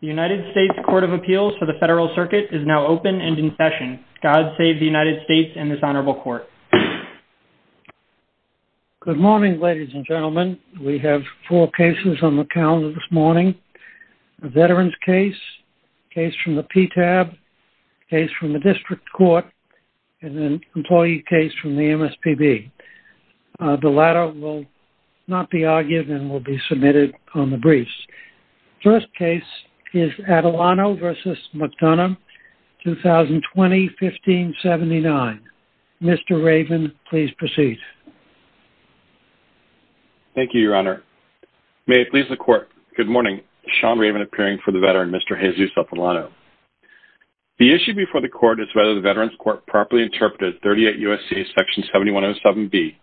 The United States Court of Appeals for the Federal Circuit is now open and in session. God save the United States and this Honorable Court. Good morning ladies and gentlemen. We have four cases on the calendar this morning. A veteran's case, case from the PTAB, case from the District Court, and an employee case from First case is Atilano v. McDonough, 2020-1579. Mr. Raven, please proceed. Thank you, Your Honor. May it please the Court. Good morning. Sean Raven appearing for the veteran, Mr. Jesus Atilano. The issue before the Court is whether the Veterans Court properly interpreted 38 U.S.C.A. Section 7107B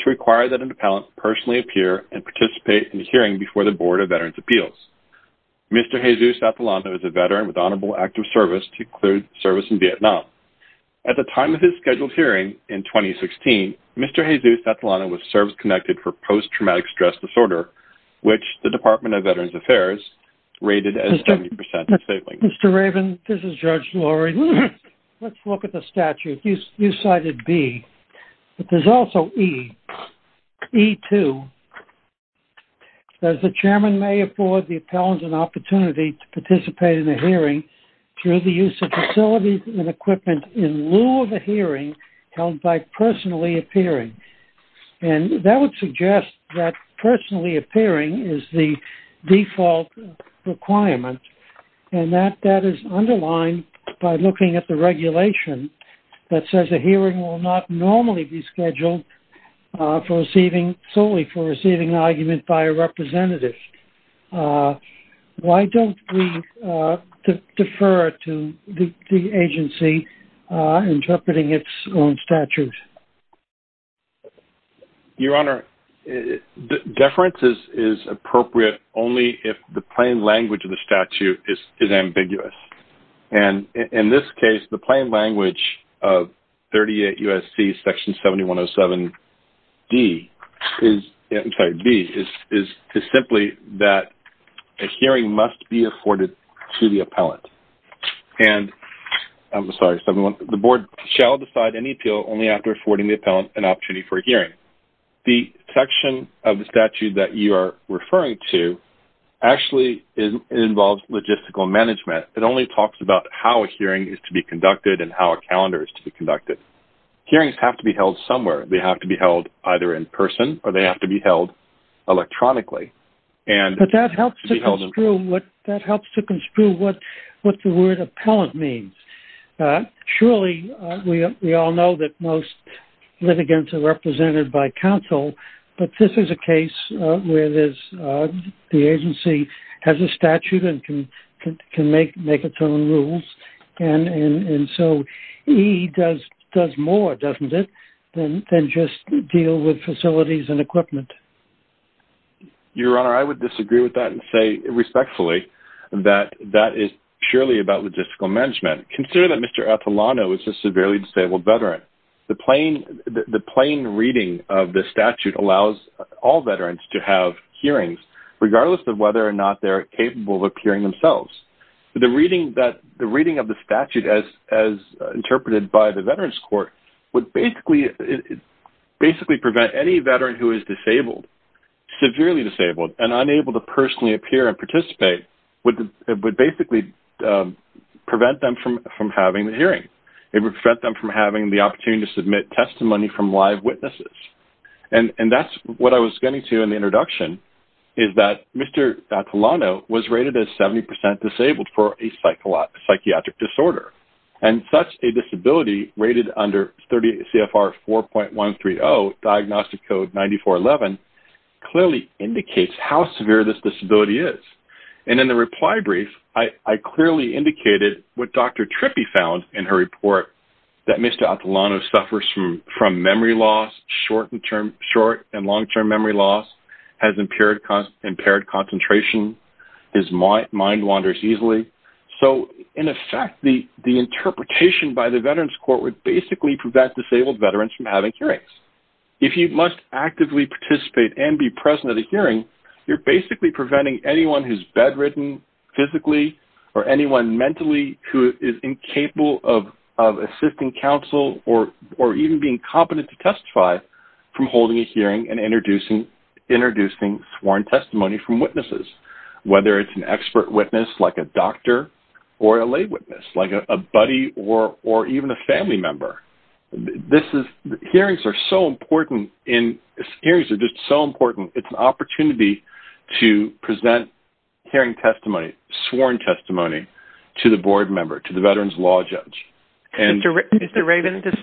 to require that an appellant personally appear and participate in the hearing before the Board of Veterans Appeals. Mr. Jesus Atilano is a veteran with Honorable Act of Service to include service in Vietnam. At the time of his scheduled hearing in 2016, Mr. Jesus Atilano was service-connected for post-traumatic stress disorder, which the Department of Veterans Affairs rated as 70% disabling. Mr. Raven, this is Judge Lurie. Let's look at the statute. You cited B, but there's also E, E2. The chairman may afford the appellant an opportunity to participate in the hearing through the use of facilities and equipment in lieu of a hearing held by personally appearing, and that would suggest that personally appearing is the default requirement, and that that is underlined by looking at the regulation that says a hearing will not normally be scheduled for receiving solely for receiving an argument by a representative. Why don't we defer to the agency interpreting its own statute? Your Honor, deference is appropriate only if the plain language of the statute is ambiguous, and in this case the plain language of 38 U.S.C. Section 7107B is simply that a hearing must be afforded to the appellant, and the Board shall decide any appeal only after affording the appellant an opportunity for a hearing. The section of the statute that you are referring to actually involves logistical management. It only talks about how a hearing is to be conducted and how a calendar is to be conducted. Hearings have to be held somewhere. They have to be held either in person or they have to be held electronically. But that helps to construe what the word appellant means. Surely we all know that most litigants are represented by counsel, but this is a case where the agency has a statute and can make its own rules, and so he does more, doesn't it, than just deal with facilities and equipment. Your Honor, I would disagree with that and say respectfully that that is purely about logistical management. Consider that Mr. Atalano is a severely disabled veteran. The plain reading of the statute allows all veterans to have hearings regardless of whether or not they're capable of appearing themselves. The reading of the statute as interpreted by the Veterans Court would basically prevent any veteran who is disabled, severely disabled, and unable to personally appear and participate, would basically prevent them from having the hearing. It would prevent them from having the opportunity to submit testimony from live witnesses, and that's what I was getting to in the Mr. Atalano was rated as 70% disabled for a psychiatric disorder, and such a disability rated under 30 CFR 4.130 Diagnostic Code 9411 clearly indicates how severe this disability is, and in the reply brief I clearly indicated what Dr. Trippi found in her report that Mr. Atalano suffers from memory loss, short and long-term memory loss, has impaired concentration, his mind wanders easily, so in effect the interpretation by the Veterans Court would basically prevent disabled veterans from having hearings. If you must actively participate and be present at a hearing, you're basically preventing anyone who's bedridden physically or anyone mentally who is incapable of assisting counsel or even being competent to testify from witnesses, whether it's an expert witness like a doctor or a lay witness, like a buddy or even a family member. This is, hearings are so important in, hearings are just so important, it's an opportunity to present hearing testimony, sworn testimony, to the board member, to the veterans law judge. Mr. Raven, this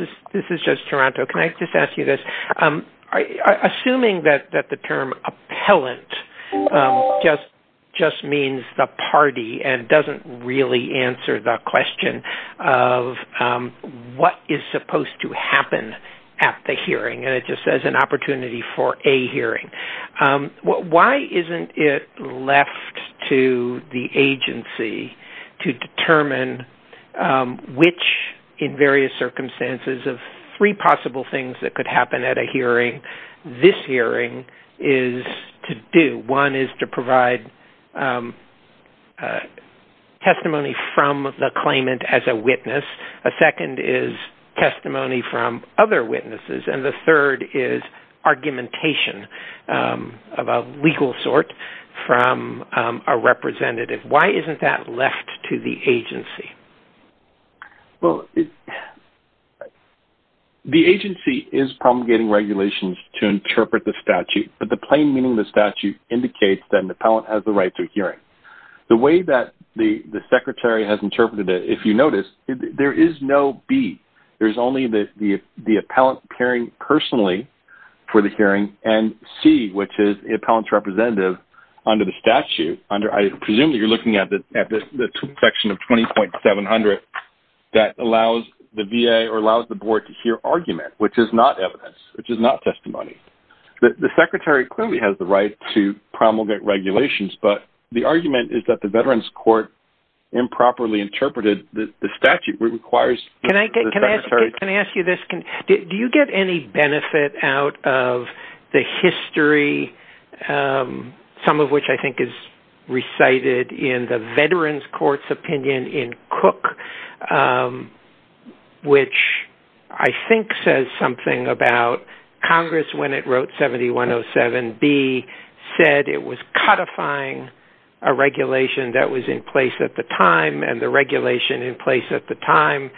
is Judge Taranto, can I just ask you this, assuming that the term appellant just means the party and doesn't really answer the question of what is supposed to happen at the hearing, and it just says an opportunity for a hearing, why isn't it left to the agency to determine which, in various circumstances, of three possible things that could happen at a hearing, this is to do? One is to provide testimony from the claimant as a witness, a second is testimony from other witnesses, and the third is argumentation of a legal sort from a representative. Why isn't that left to the agency? Well, the agency is promulgating regulations to interpret the statute, but the plain meaning of the statute indicates that an appellant has the right to a hearing. The way that the the secretary has interpreted it, if you notice, there is no B, there's only the the appellant appearing personally for the hearing, and C, which is the appellant's representative under the statute, under, I presume that you're looking at the section of 20.700 that allows the VA or allows the appellant to have a hearing, which is not evidence, which is not testimony. The secretary clearly has the right to promulgate regulations, but the argument is that the Veterans Court improperly interpreted the statute. Can I ask you this? Do you get any benefit out of the history, some of which I think is recited in the Veterans Court's opinion in Cook, which I think says something about Congress when it wrote 7107B said it was codifying a regulation that was in place at the time and the regulation in place at the time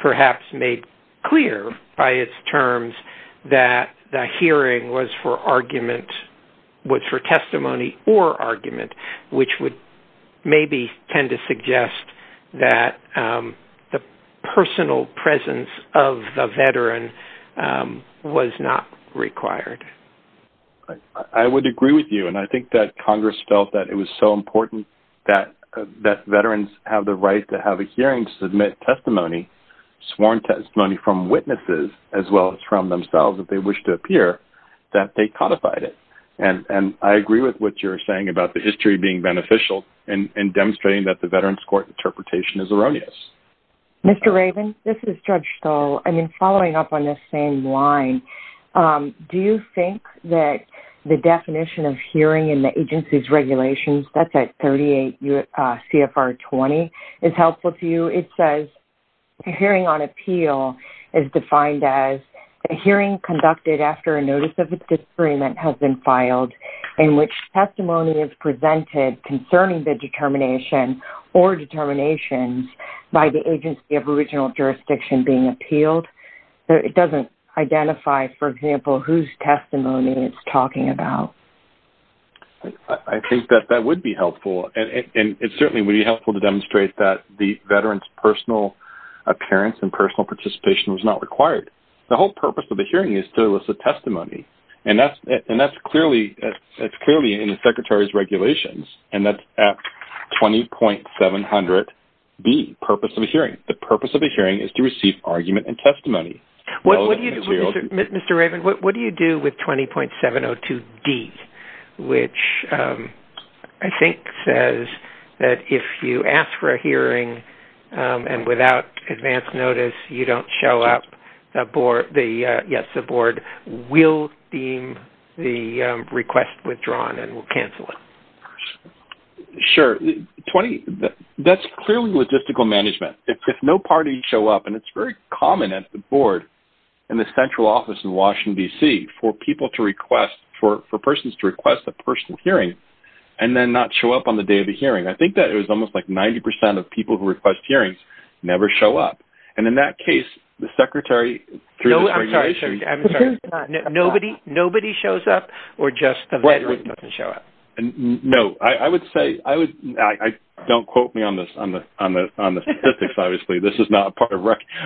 perhaps made clear by its terms that the hearing was for argument, was for testimony or argument, which would maybe tend to suggest that the personal presence of the veteran was not required. I would agree with you, and I think that Congress felt that it was so important that Veterans have the right to have a hearing to submit testimony, sworn testimony from witnesses as well as from themselves if they wish to appear, that they codified it, and I agree with what you're saying about the history being beneficial and demonstrating that the Veterans Court interpretation is erroneous. Mr. Raven, this is Judge Stoll. I mean, following up on this same line, do you think that the definition of hearing in the agency's regulations, that's at 38 CFR 20, is helpful to you? It says hearing on appeal is defined as a hearing conducted after a notice of a disagreement has been presented concerning the determination or determinations by the agency of original jurisdiction being appealed. It doesn't identify, for example, whose testimony it's talking about. I think that that would be helpful, and it certainly would be helpful to demonstrate that the veteran's personal appearance and personal participation was not required. The whole purpose of the hearing is to elicit testimony, and that's clearly in the Secretary's regulations, and that's at 20.700B, purpose of a hearing. The purpose of a hearing is to receive argument and testimony. Mr. Raven, what do you do with 20.702D, which I think says that if you ask for a hearing and without advance notice you don't show up, the board will deem the request withdrawn and will cancel it. Sure, 20, that's clearly logistical management. If no party show up, and it's very common at the board in the central office in Washington DC for people to request, for persons to request a personal hearing and then not show up on the day of the hearing, I think that it was almost like 90% of people who request hearings never show up. And in that case, the Secretary, I'm sorry, nobody shows up or just the veteran doesn't show up? No, I would say, don't quote me on this, on the statistics, obviously, this is not part of,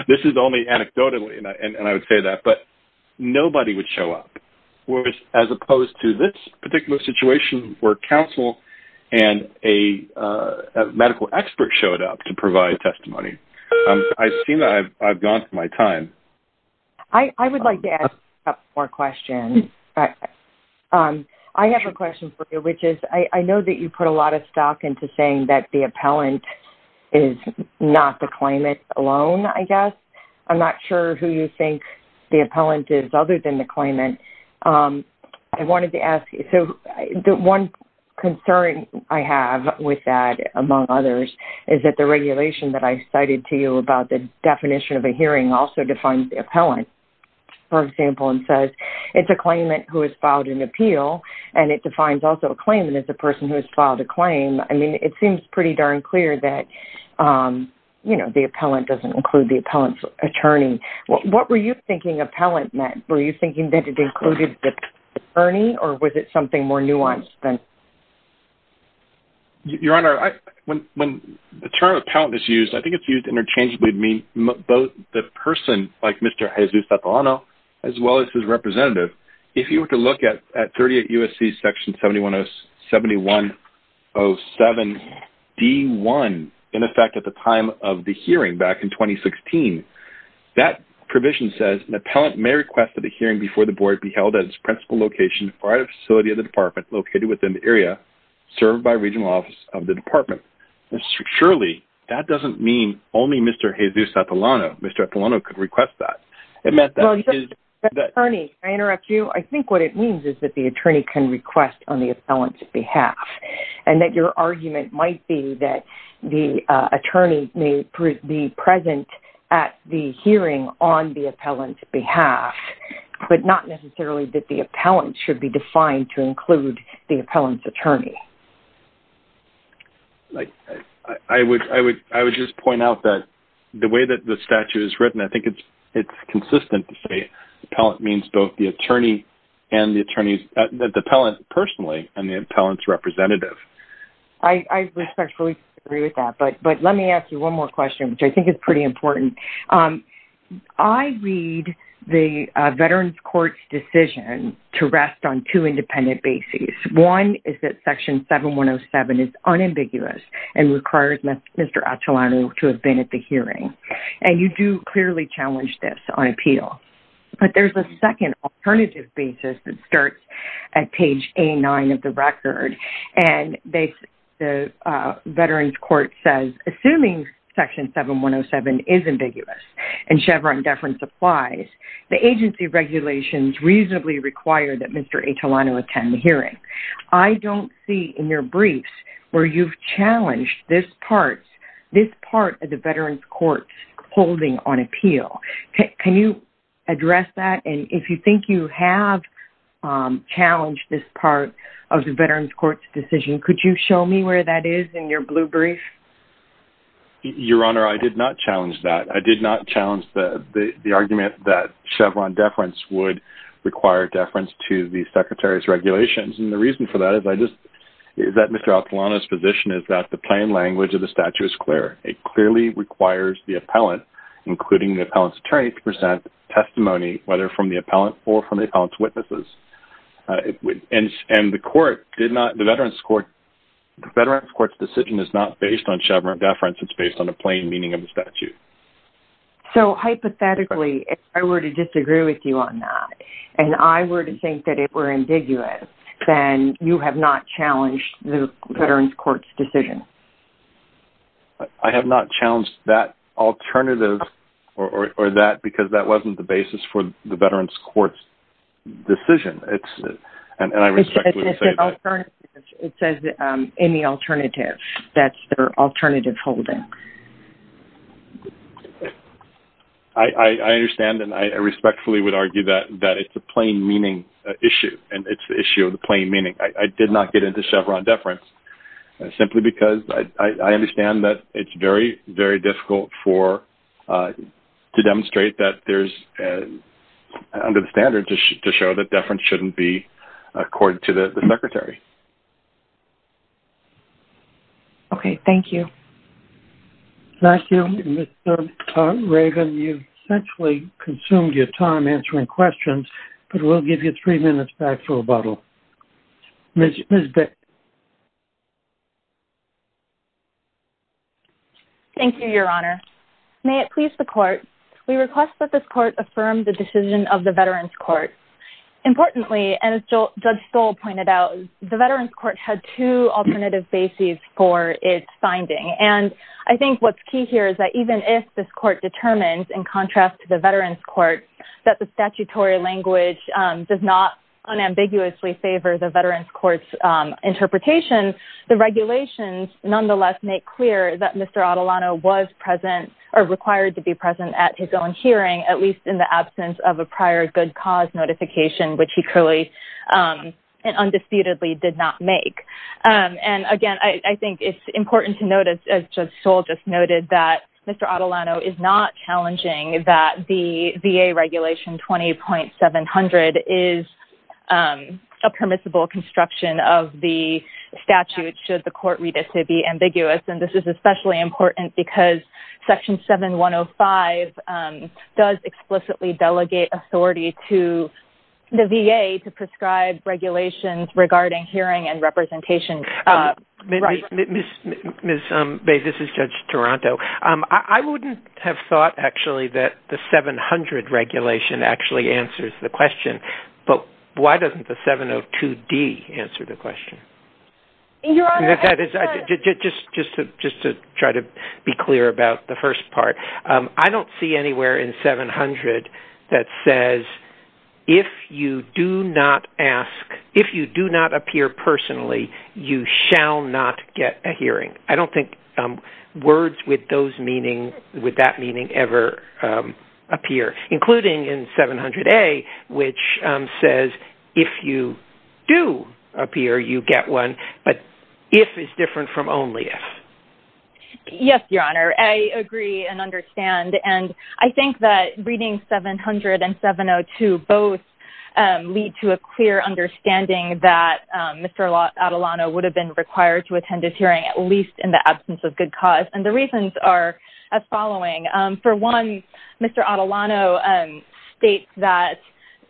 this is only anecdotally, and I would say that, but nobody would show up. Whereas, as opposed to this particular situation where counsel and a medical expert showed up to provide testimony. I see that I've gone through my time. I would like to ask a couple more questions. I have a question for you, which is, I know that you put a lot of stock into saying that the appellant is not the claimant alone, I guess. I'm not sure who you think the One concern I have with that, among others, is that the regulation that I cited to you about the definition of a hearing also defines the appellant. For example, it says it's a claimant who has filed an appeal and it defines also a claimant as a person who has filed a claim. I mean, it seems pretty darn clear that, you know, the appellant doesn't include the appellant's attorney. What were you thinking appellant meant? Were you thinking that it included the attorney or was it something more nuanced than? Your Honor, when the term appellant is used, I think it's used interchangeably. I mean, both the person, like Mr. Jesus Sartano, as well as his representative. If you were to look at 38 U.S.C. Section 7107-D1, in effect, at the time of the hearing back in 2016, that provision says an appellant may request that the hearing before the location or facility of the department located within the area served by regional office of the department. Surely, that doesn't mean only Mr. Jesus Sartano. Mr. Sartano could request that. Attorney, may I interrupt you? I think what it means is that the attorney can request on the appellant's behalf and that your argument might be that the attorney may be present at the hearing on the appellant should be defined to include the appellant's attorney. I would just point out that the way that the statute is written, I think it's consistent to say appellant means both the attorney and the attorneys, that the appellant personally and the appellant's representative. I respectfully agree with that, but let me ask you one more question, which I think is pretty important. I read the Veterans Court's decision to rest on two independent bases. One is that Section 7107 is unambiguous and requires Mr. Atulano to have been at the hearing, and you do clearly challenge this on appeal, but there's a second alternative basis that starts at page A9 of the record, and the Veterans Court says, assuming Section 7107 is ambiguous and Chevron deference applies, the agency regulations reasonably require that Mr. Atulano attend the hearing. I don't see in your briefs where you've challenged this part of the Veterans Court's holding on appeal. Can you address that, and if you think you have challenged this part of the Veterans Court's decision, could you show me where that is in your blue brief? Your Honor, I did not challenge that. I did not challenge the argument that Chevron deference would require deference to the Secretary's regulations, and the reason for that is that Mr. Atulano's position is that the plain language of the statute is clear. It clearly requires the appellant, including the appellant's attorney, to present testimony, whether from the appellant or from the appellant's witnesses, and the Veterans Court's decision is not based on Chevron deference. It's based on the plain meaning of the statute. So, hypothetically, if I were to disagree with you on that, and I were to think that it were ambiguous, then you have not challenged the Veterans Court's decision. I have not challenged that alternative or that because that wasn't the basis for the Veterans Court's decision, and I It says any alternative. That's their alternative holding. I understand, and I respectfully would argue that it's a plain meaning issue, and it's the issue of the plain meaning. I did not get into Chevron deference simply because I understand that it's very, very difficult to demonstrate that there's, under standard, to show that deference shouldn't be accorded to the Secretary. Okay, thank you. Thank you, Mr. Raven. You've essentially consumed your time answering questions, but we'll give you three minutes back for rebuttal. Ms. Beck. Thank you, Your Honor. May it please the Court, we request that this Court affirm the decision of the Veterans Court. Importantly, and as Judge Stoll pointed out, the Veterans Court had two alternative bases for its finding, and I think what's key here is that even if this Court determines, in contrast to the Veterans Court, that the statutory language does not unambiguously favor the Veterans Court's interpretation, the regulations nonetheless make clear that Mr. Adelano was present or required to be present at his own hearing, at least in the absence of a prior good cause notification, which he truly and undisputedly did not make. And again, I think it's important to note, as Judge Stoll just noted, that Mr. Adelano is not challenging that the VA Regulation 20.700 is a permissible construction of the statute should the Court read it to be ambiguous, and this is especially important because Section 7105 does explicitly delegate authority to the VA to prescribe regulations regarding hearing and representation. Ms. Bey, this is Judge Toronto. I wouldn't have thought, actually, that the 700 Regulation actually answers the question, but why doesn't the 702D answer the question? Your Honor... Just to try to be clear, it's the 700 that says, if you do not ask, if you do not appear personally, you shall not get a hearing. I don't think words with those meanings, with that meaning, ever appear, including in 700A, which says, if you do appear, you get one, but if is different from only if. Yes, Your Honor, I agree and understand, and I think that reading 700 and 702 both lead to a clear understanding that Mr. Adelano would have been required to attend his hearing, at least in the absence of good cause, and the reasons are as following. For one, Mr. Adelano states that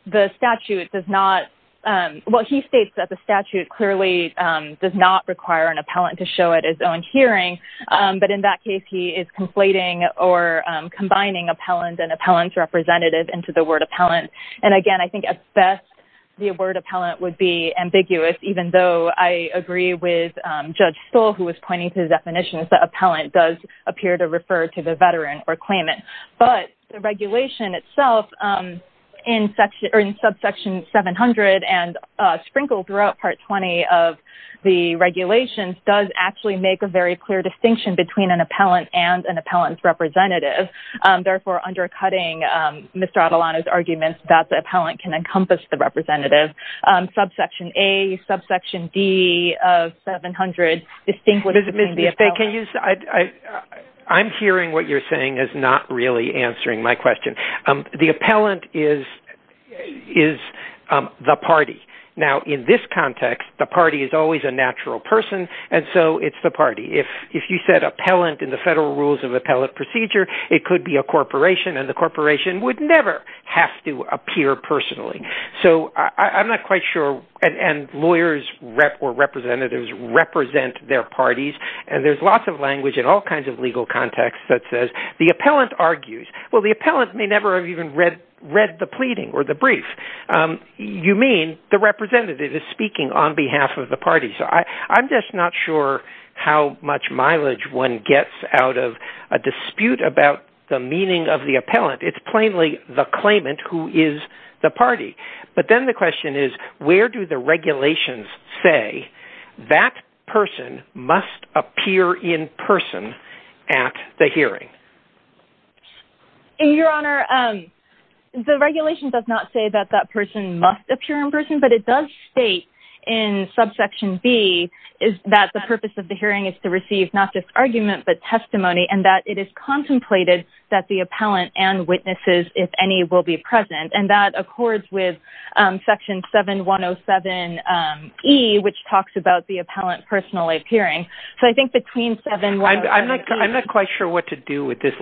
the statute does not, well, he states that the statute clearly does not require an appellant to show at his own hearing, but in that case, he is conflating or combining appellant and appellant's representative into the word appellant, and again, I think at best, the word appellant would be ambiguous, even though I agree with Judge Stoll, who was pointing to the definitions that appellant does appear to refer to the veteran or claimant, but the regulation itself in subsection 700 and sprinkled throughout Part 20 of the regulations does actually make a very clear distinction between an appellant and an appellant's representative, therefore undercutting Mr. Adelano's arguments that the appellant can encompass the representative. Subsection A, subsection D of 700, distinguishes between the appellant. I'm hearing what you're saying as not really answering my question. The appellant is the party. Now, in this context, the party is always a natural person, and so it's the party. If you said appellant in the Federal Rules of Appellate Procedure, it could be a corporation, and the corporation would never have to appear personally, so I'm not quite sure, and lawyers or representatives represent their parties, and there's lots of language in all kinds of legal contexts that says the appellant argues. Well, the appellant may never have even read the pleading or the brief. You mean the representative is speaking on behalf of the party, so I'm just not sure how much mileage one gets out of a dispute about the meaning of the appellant. It's plainly the claimant who is the party, but then the question is, where do the regulations say that person must appear in person at the hearing? Your Honor, the regulation does not say that that person must appear in person, but it does state in subsection B that the purpose of the hearing is to receive not just argument, but testimony, and that it is contemplated that the appellant and witnesses, if any, will be present, and that accords with section 7107E, which talks about the appellant personally appearing, so I think between 7107... I'm not quite sure what to do with this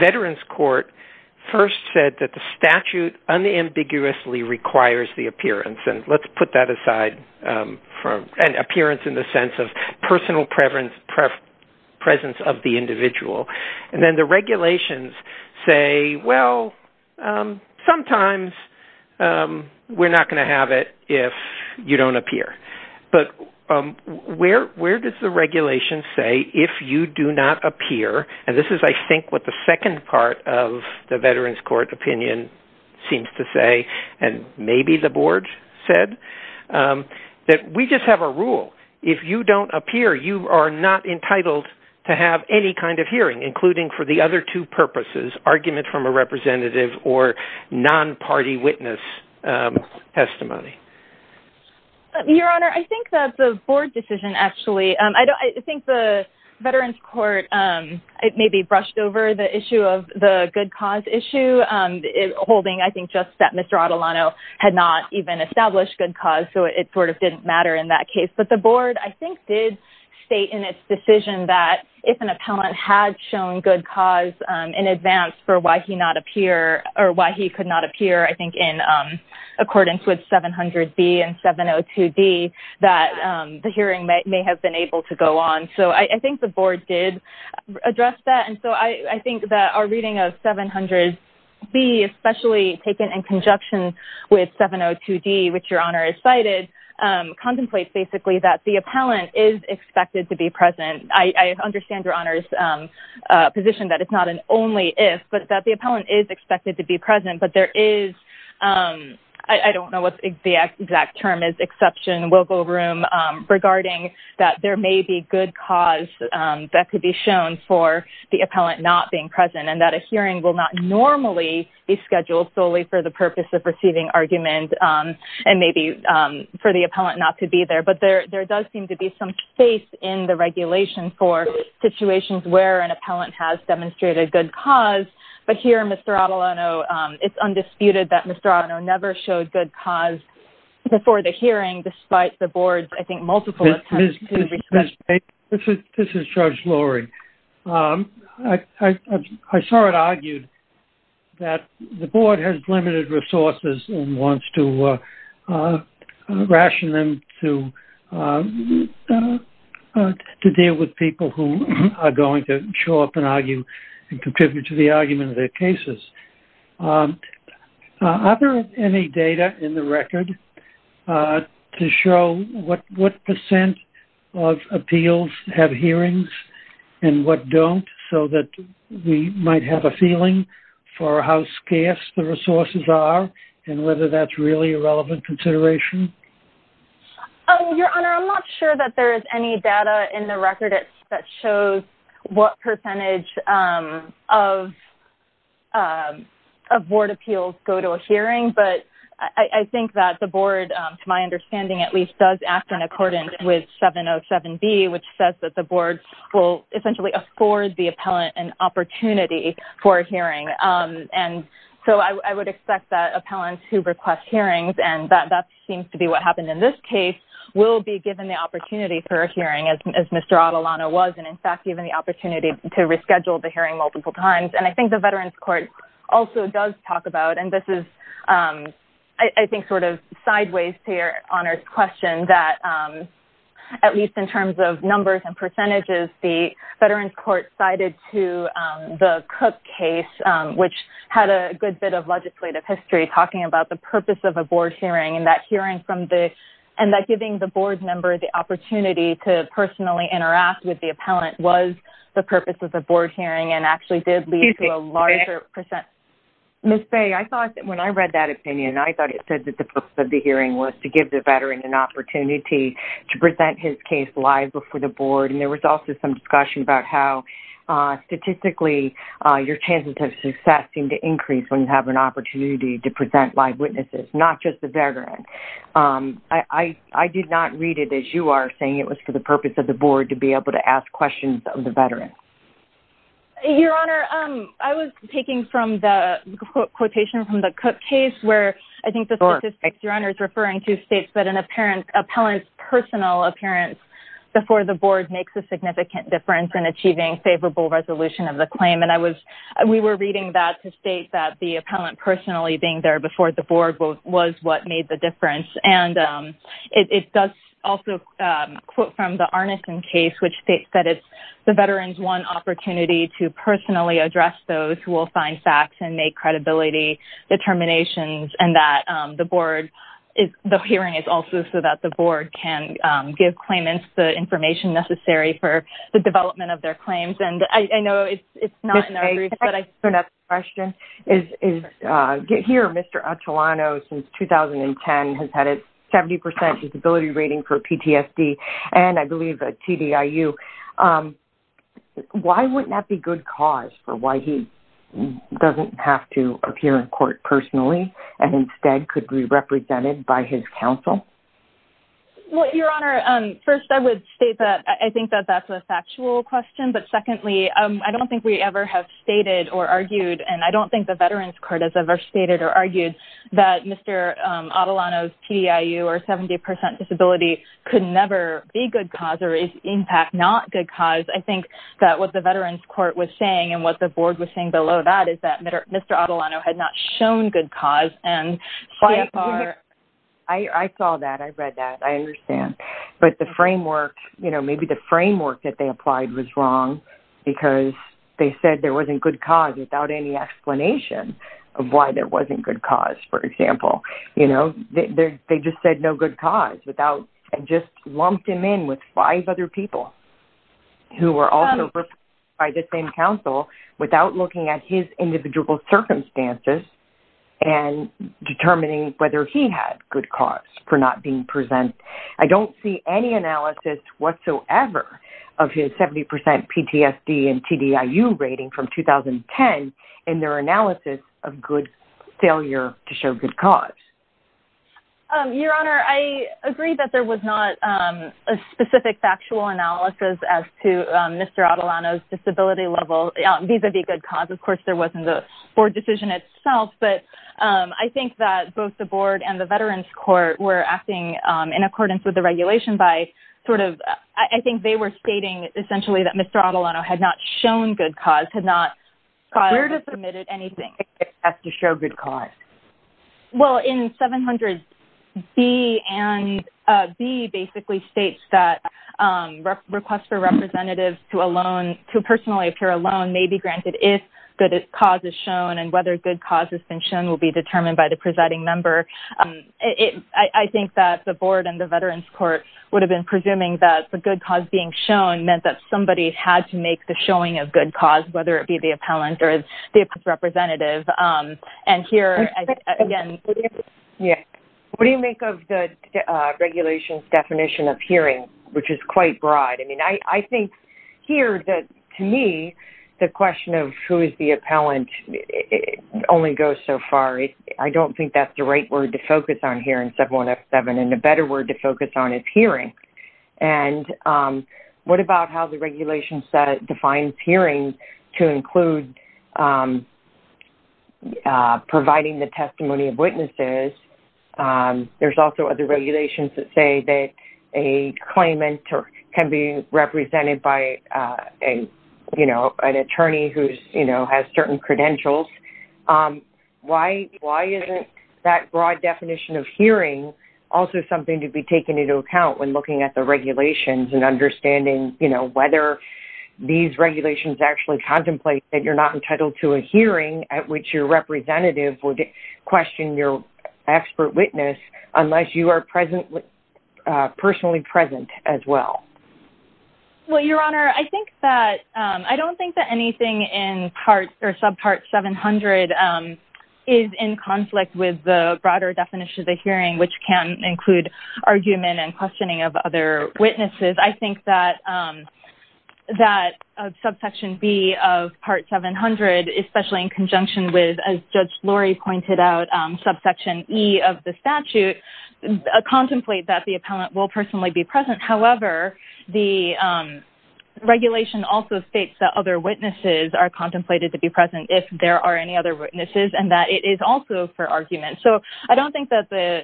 Veterans Court first said that the statute unambiguously requires the appearance, and let's put that aside for an appearance in the sense of personal presence of the individual, and then the regulations say, well, sometimes we're not going to have it if you don't appear, but where does the second part of the Veterans Court opinion seems to say, and maybe the Board said, that we just have a rule. If you don't appear, you are not entitled to have any kind of hearing, including for the other two purposes, argument from a representative or non-party witness testimony. Your Honor, I think that the Board decision, actually, I think the Veterans Court, it may be brushed over the issue of the good cause issue, holding, I think, just that Mr. Adelano had not even established good cause, so it sort of didn't matter in that case, but the Board, I think, did state in its decision that if an appellant had shown good cause in advance for why he not appear, or why he could not appear, I think, in accordance with 700B and 702D, that the hearing may have been able to I think that our reading of 700B, especially taken in conjunction with 702D, which Your Honor is cited, contemplates, basically, that the appellant is expected to be present. I understand Your Honor's position that it's not an only if, but that the appellant is expected to be present, but there is, I don't know what the exact term is, exception, will go room regarding that there may be good cause that could be shown for the appellant not being present, and that a hearing will not normally be scheduled solely for the purpose of receiving argument, and maybe for the appellant not to be there, but there does seem to be some faith in the regulation for situations where an appellant has demonstrated good cause, but here, Mr. Adelano, it's undisputed that Mr. Adelano never showed good cause before the hearing, despite the Board's, I This is Judge Loring. I saw it argued that the Board has limited resources and wants to ration them to deal with people who are going to show up and argue and contribute to the argument of their cases. Are there any data in the record to show what percent of appeals have hearings and what don't, so that we might have a feeling for how scarce the resources are, and whether that's really a relevant consideration? Your Honor, I'm not sure that there is any data in the record that shows what percentage of Board appeals go to a hearing, but I think that the Board, to my understanding at least, does act in accordance with 707B, which says that the Board will essentially afford the appellant an opportunity for a hearing, and so I would expect that appellants who request hearings, and that seems to be what happened in this case, will be given the opportunity for a hearing, as Mr. Adelano was, and in fact even the opportunity to reschedule the hearing multiple times, and I think the Veterans Court also does talk about, and this is I think sort of sideways to your Honor's question, that at least in terms of numbers and percentages, the Veterans Court cited to the Cook case, which had a good bit of legislative history talking about the purpose of a Board hearing, and that hearing from the, and that giving the Board member the opportunity to personally interact with the appellant was the purpose of the Board hearing, and actually did lead to a larger percent. Ms. Faye, I thought that when I read that opinion, I thought it said that the purpose of the hearing was to give the Veteran an opportunity to present his case live before the Board, and there was also some discussion about how statistically your chances of success seem to increase when you have an opportunity to present live witnesses, not just the Veteran. I did not read it as you are, saying it was for the purpose of the Board to be able to ask questions of the Veteran. Your Honor, I was taking from the quotation from the Cook case where I think the statistics your Honor is referring to states that an appellant's personal appearance before the Board makes a significant difference in achieving favorable resolution of the claim, and I was, we were reading that to state that the appellant personally being there before the Board was what made the difference, and it does also quote from the Arneson case, which states that it's the Veteran's one opportunity to personally address those who will find facts and make credibility determinations, and that the Board is, the hearing is also so that the Board can give claimants the information necessary for the development of their claims, and I know it's not in our group, but I... Ms. Faye, can I ask a question? Here, Mr. Atulano, since 2010, has had a 70% disability rating for PTSD, and I believe a TDIU. Why wouldn't that be good cause for why he doesn't have to appear in court personally, and instead could be represented by his counsel? Well, your Honor, first I would state that I think that that's a factual question, but secondly, I don't think we ever have stated or argued, and I don't think the Veterans Court has ever stated or argued that Mr. Atulano's TDIU or 70% disability could never be good cause or is in fact not good cause. I think that what the Veterans Court was saying and what the Board was saying below that is that Mr. Atulano had not shown good cause and... I saw that. I read that. I understand, but the framework, you know, maybe the framework that they applied was wrong because they said there wasn't good cause without any explanation of why there wasn't good cause, for example. You know, they just said no good cause without... just lumped him in with five other people who were also represented by the same counsel without looking at his individual circumstances and determining whether he had good cause for not being presented. I don't see any analysis whatsoever of his 70% PTSD and TDIU rating from 2010 in their analysis of good failure to show good cause. Your Honor, I agree that there was not a specific factual analysis as to Mr. Atulano's disability level vis-a-vis good cause. Of course, there wasn't a Board decision itself, but I think that both the Board and the Veterans Court were acting in accordance with the regulation by sort of... I think they were stating essentially that Mr. Atulano had not shown good cause, had not submitted anything except to show good cause. Well, in 700B and B basically states that requests for representatives to personally appear alone may be granted if good cause is shown and whether good cause has been shown will be determined by the presiding member. I think that the Board and the Veterans Court would have been presuming that the good cause being shown meant that somebody had to make the showing of good cause, whether it be the appellant or the representative. What do you make of the regulation's definition of hearing, which is quite broad? I mean, I think here that to me the question of who is the appellant only goes so far. I don't think that's the right word to focus on here in 7107 and a better word to focus on is hearing. And what about how the regulation defines hearing to include providing the testimony of witnesses? There's also other regulations that say that a claimant can be represented by an attorney who has certain credentials. Why isn't that broad definition of hearing also something to be taken into account when looking at the regulations and understanding whether these regulations actually contemplate that you're not entitled to a hearing at which your representative would question your expert witness unless you are personally present as well? Well, Your Honor, I don't think that anything in subpart 700 is in conflict with the broader definition of the hearing, which can include argument and questioning of other witnesses. I think that subsection B of part 700, especially in conjunction with, as Judge Lori pointed out, subsection E of the statute, contemplates that the appellant will personally be present. However, the witnesses are contemplated to be present if there are any other witnesses and that it is also for argument. So I don't think that the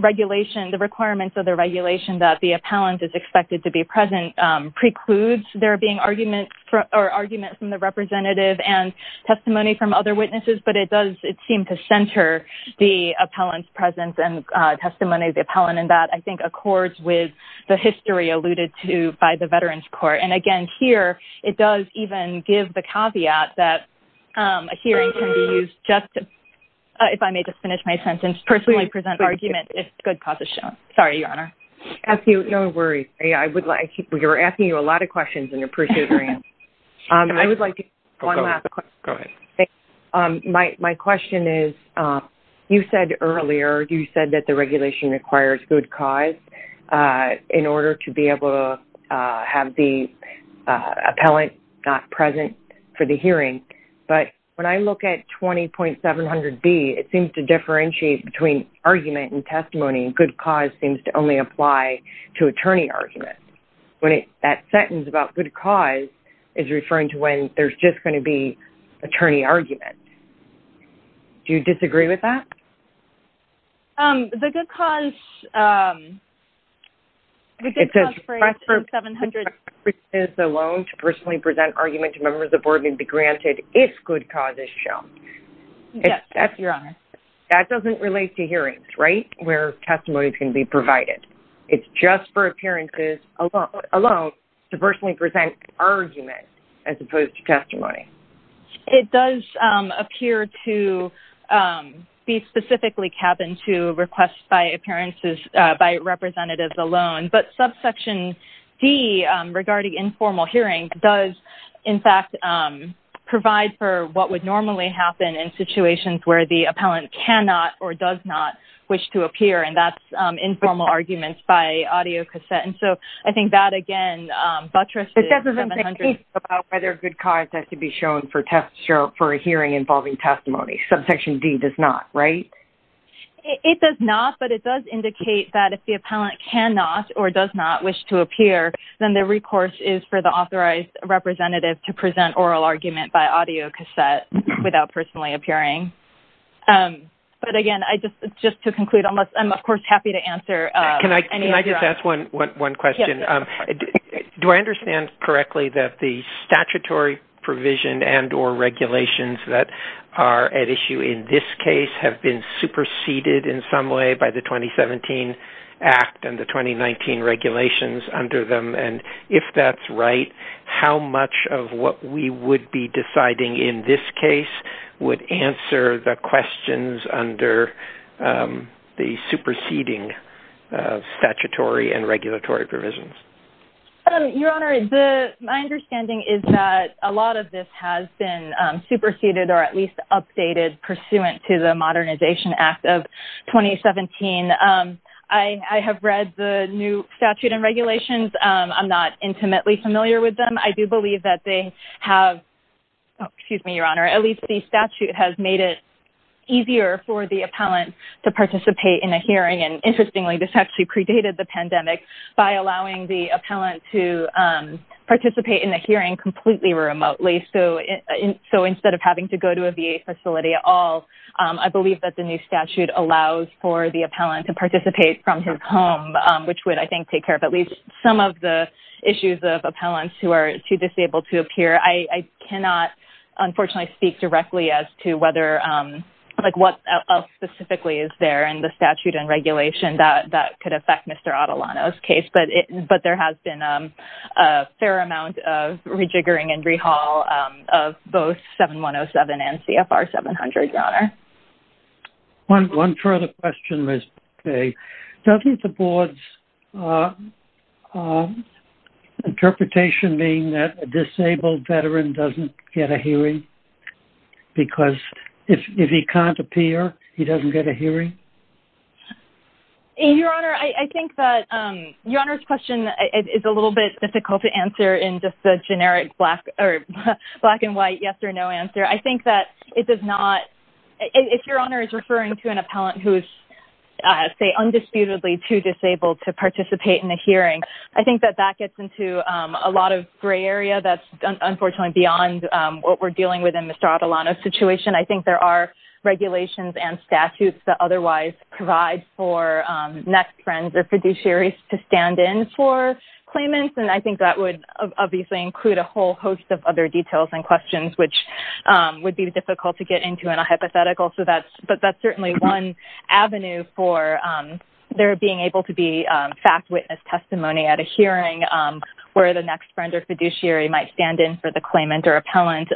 regulation, the requirements of the regulation that the appellant is expected to be present precludes there being argument from the representative and testimony from other witnesses, but it does seem to center the appellant's presence and testimony of the appellant. And that, I think, accords with the caveat that a hearing can be used just to, if I may just finish my sentence, personally present argument if good cause is shown. Sorry, Your Honor. No worries. We were asking you a lot of questions and appreciate your answer. My question is, you said earlier, you said that the regulation requires good cause in order to be able to have the appellant not present for the hearing. But when I look at 20.700B, it seems to differentiate between argument and testimony, and good cause seems to only apply to attorney argument. When that sentence about good cause is referring to when there's just going to be attorney argument. Do you disagree with that? The good cause for 20.700B is a loan to personally present argument to members of board and be granted if good cause is shown. Yes, Your Honor. That doesn't relate to hearings, right, where testimony can be provided. It's just for appearances alone to personally present argument as opposed to testimony. It does appear to be specifically cabined to requests by appearances by representatives alone, but subsection D regarding informal hearing does, in fact, provide for what would normally happen in situations where the appellant cannot or does not wish to appear, and that's informal arguments by audio cassette. And so I think that, again, buttresses whether good cause has to be shown for a hearing involving testimony. Subsection D does not, right? It does not, but it does indicate that if the authorized representative to present oral argument by audio cassette without personally appearing. But again, just to conclude, I'm, of course, happy to answer. Can I just ask one question? Do I understand correctly that the statutory provision and or regulations that are at issue in this case have been superseded in some way by the 2017 Act and the 2019 regulations under them, and if that's right, how much of what we would be deciding in this case would answer the questions under the superseding statutory and regulatory provisions? Your Honor, my understanding is that a lot of this has been superseded or at least updated pursuant to the Modernization Act of 2017. I have read the new statute and regulations. I'm not intimately familiar with them. I do believe that they have, excuse me, Your Honor, at least the statute has made it easier for the appellant to participate in a hearing. And interestingly, this actually predated the pandemic by allowing the appellant to participate in the hearing completely remotely. So instead of having to go to a VA facility at all, I believe that the new statute allows for the appellant to participate from his home, which would, I think, take care of at least some of the issues of appellants who are too disabled to appear. I cannot, unfortunately, speak directly as to whether, like, what else specifically is there in the statute and regulation that could affect Mr. Adelano's case, but there has been a fair amount of rejiggering and rehaul of both 7107 and CFR 700, Your Honor. One further question, Ms. Bucke. Doesn't the board's interpretation mean that a disabled veteran doesn't get a hearing? Because if he can't appear, he doesn't get a hearing? Your Honor, I think that Your Honor's question is a little bit difficult to answer in just the generic black or black and white yes or no answer. I think that it does not, if Your Honor is referring to an appellant who is, say, undisputedly too disabled to participate in the hearing, I think that that gets into a lot of gray area that's unfortunately beyond what we're dealing with in Mr. Adelano's situation. I think there are regulations and statutes that otherwise provide for next friends or fiduciaries to stand in for claimants, and I think that would obviously include a whole host of other details and difficult to get into in a hypothetical, but that's certainly one avenue for there being able to be fact witness testimony at a hearing where the next friend or fiduciary might stand in for the claimant or appellant.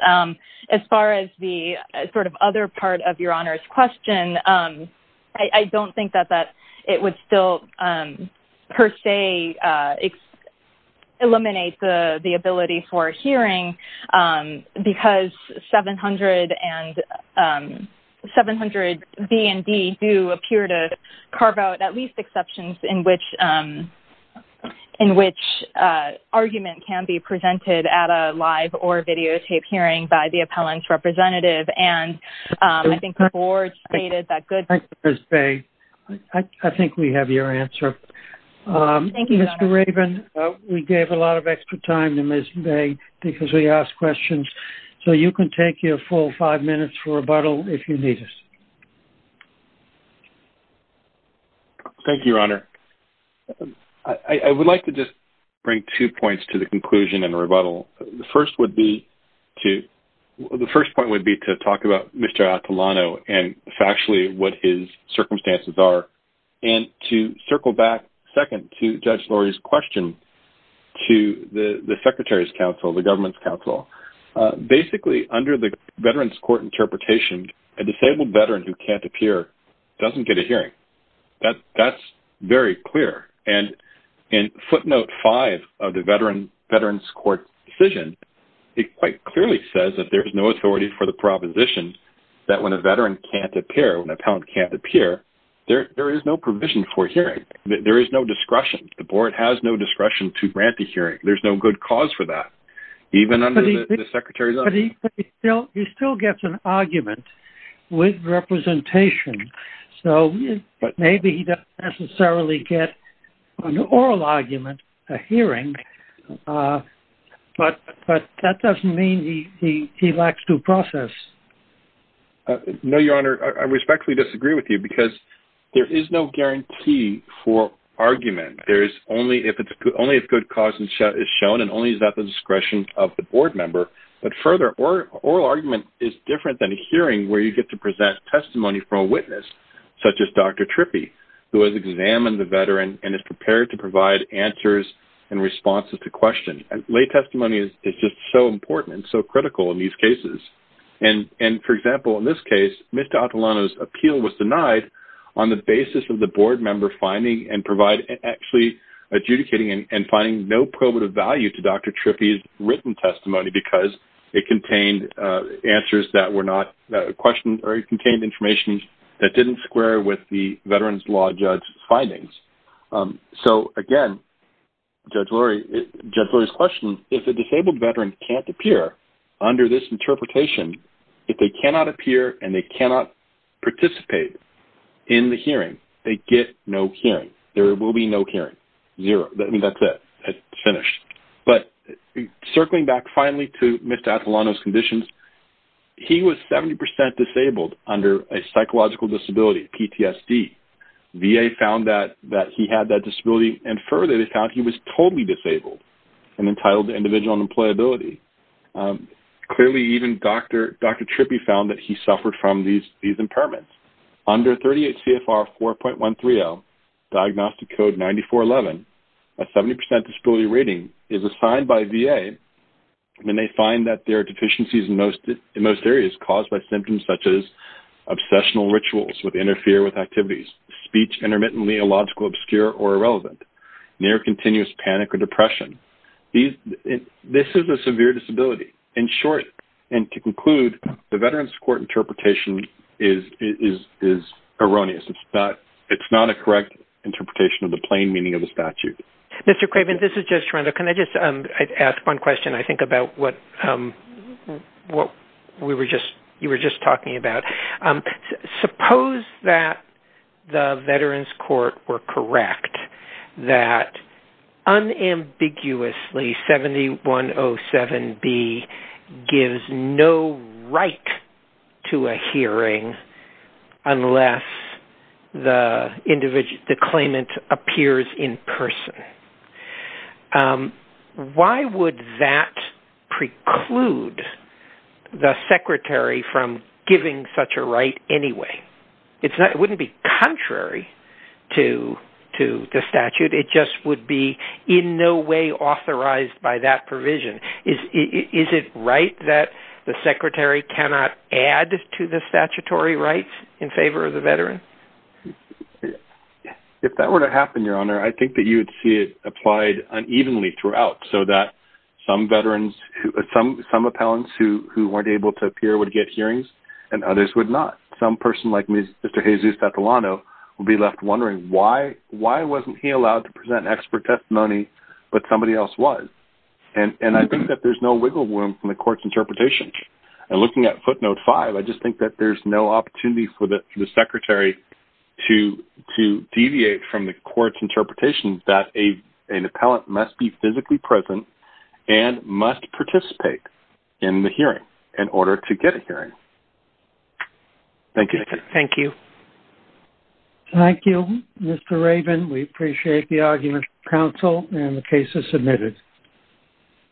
As far as the sort of other part of Your Honor's question, I don't think that it would still, per se, eliminate the ability for a hearing because 700 B and D do appear to carve out at least exceptions in which argument can be presented at a live or videotape hearing by the appellant's representative, and I think the board stated that good... Ms. Bay, I think we have your answer. Thank you, Mr. Raven. We gave a lot of extra time to Ms. Bay because we asked questions, so you can take your full five minutes for rebuttal if you need us. Thank you, Your Honor. I would like to just bring two points to the conclusion and rebuttal. The first point would be to talk about Mr. Atalano and factually what his circumstances are, and to circle back second to Judge Lurie's question to the Secretary's counsel, the government's counsel. Basically, under the Veterans Court interpretation, a disabled veteran who can't appear doesn't get a hearing. That's very clear, and in footnote five of the Veterans Court decision, it quite clearly says that there's no authority for the proposition that when a veteran can't appear, when an appellant can't appear, there is no provision for hearing. There is no discretion. The board has no discretion to grant the hearing. There's no good cause for that, even under the Secretary's... But he still gets an argument with a hearing, but that doesn't mean he lacks due process. No, Your Honor. I respectfully disagree with you because there is no guarantee for argument. Only if good cause is shown, and only is that the discretion of the board member. But further, oral argument is different than a hearing where you get to present testimony from a witness, such as Dr. Trippi, who has written testimony in response to questions. Lay testimony is just so important and so critical in these cases. For example, in this case, Mr. Atalano's appeal was denied on the basis of the board member finding and providing... Actually, adjudicating and finding no probative value to Dr. Trippi's written testimony because it contained answers that were not questioned, or it contained information that didn't square with the Veterans Law Judge's findings. So again, Judge Lurie's question, if a disabled veteran can't appear under this interpretation, if they cannot appear and they cannot participate in the hearing, they get no hearing. There will be no hearing. Zero. That's it. It's finished. But circling back finally to Mr. Atalano's conditions, he was 70% disabled under a psychological disability, PTSD. VA found that he had that disability, and further, they found he was totally disabled and entitled to individual unemployability. Clearly, even Dr. Trippi found that he suffered from these impairments. Under 38 CFR 4.130, Diagnostic Code 9411, a 70% disability rating is assigned by VA, and they find that there are deficiencies in most areas caused by with interfere with activities, speech intermittently, illogical, obscure, or irrelevant, near continuous panic or depression. This is a severe disability. In short, and to conclude, the Veterans Court interpretation is erroneous. It's not a correct interpretation of the plain meaning of the statute. Mr. Craven, this is Judge Toronto. Can I just ask one question, I think, about what you were just talking about? Suppose that the Veterans Court were correct that unambiguously, 7107B gives no right to a hearing unless the Secretary precludes the Secretary from giving such a right anyway. It wouldn't be contrary to the statute. It just would be in no way authorized by that provision. Is it right that the Secretary cannot add to the statutory rights in favor of the veteran? If that were to happen, Your Honor, I think that you'd see it applied unevenly throughout, so that some veterans, some appellants who weren't able to appear would get hearings and others would not. Some person like Mr. Jesus Tatelano would be left wondering why wasn't he allowed to present an expert testimony, but somebody else was. And I think that there's no wiggle room from the court's interpretation. And looking at footnote five, I just think that there's no opportunity for the Secretary to deviate from the court's obligation to be physically present and must participate in the hearing in order to get a hearing. Thank you. Thank you. Thank you, Mr. Rabin. We appreciate the argument, counsel, and the cases submitted.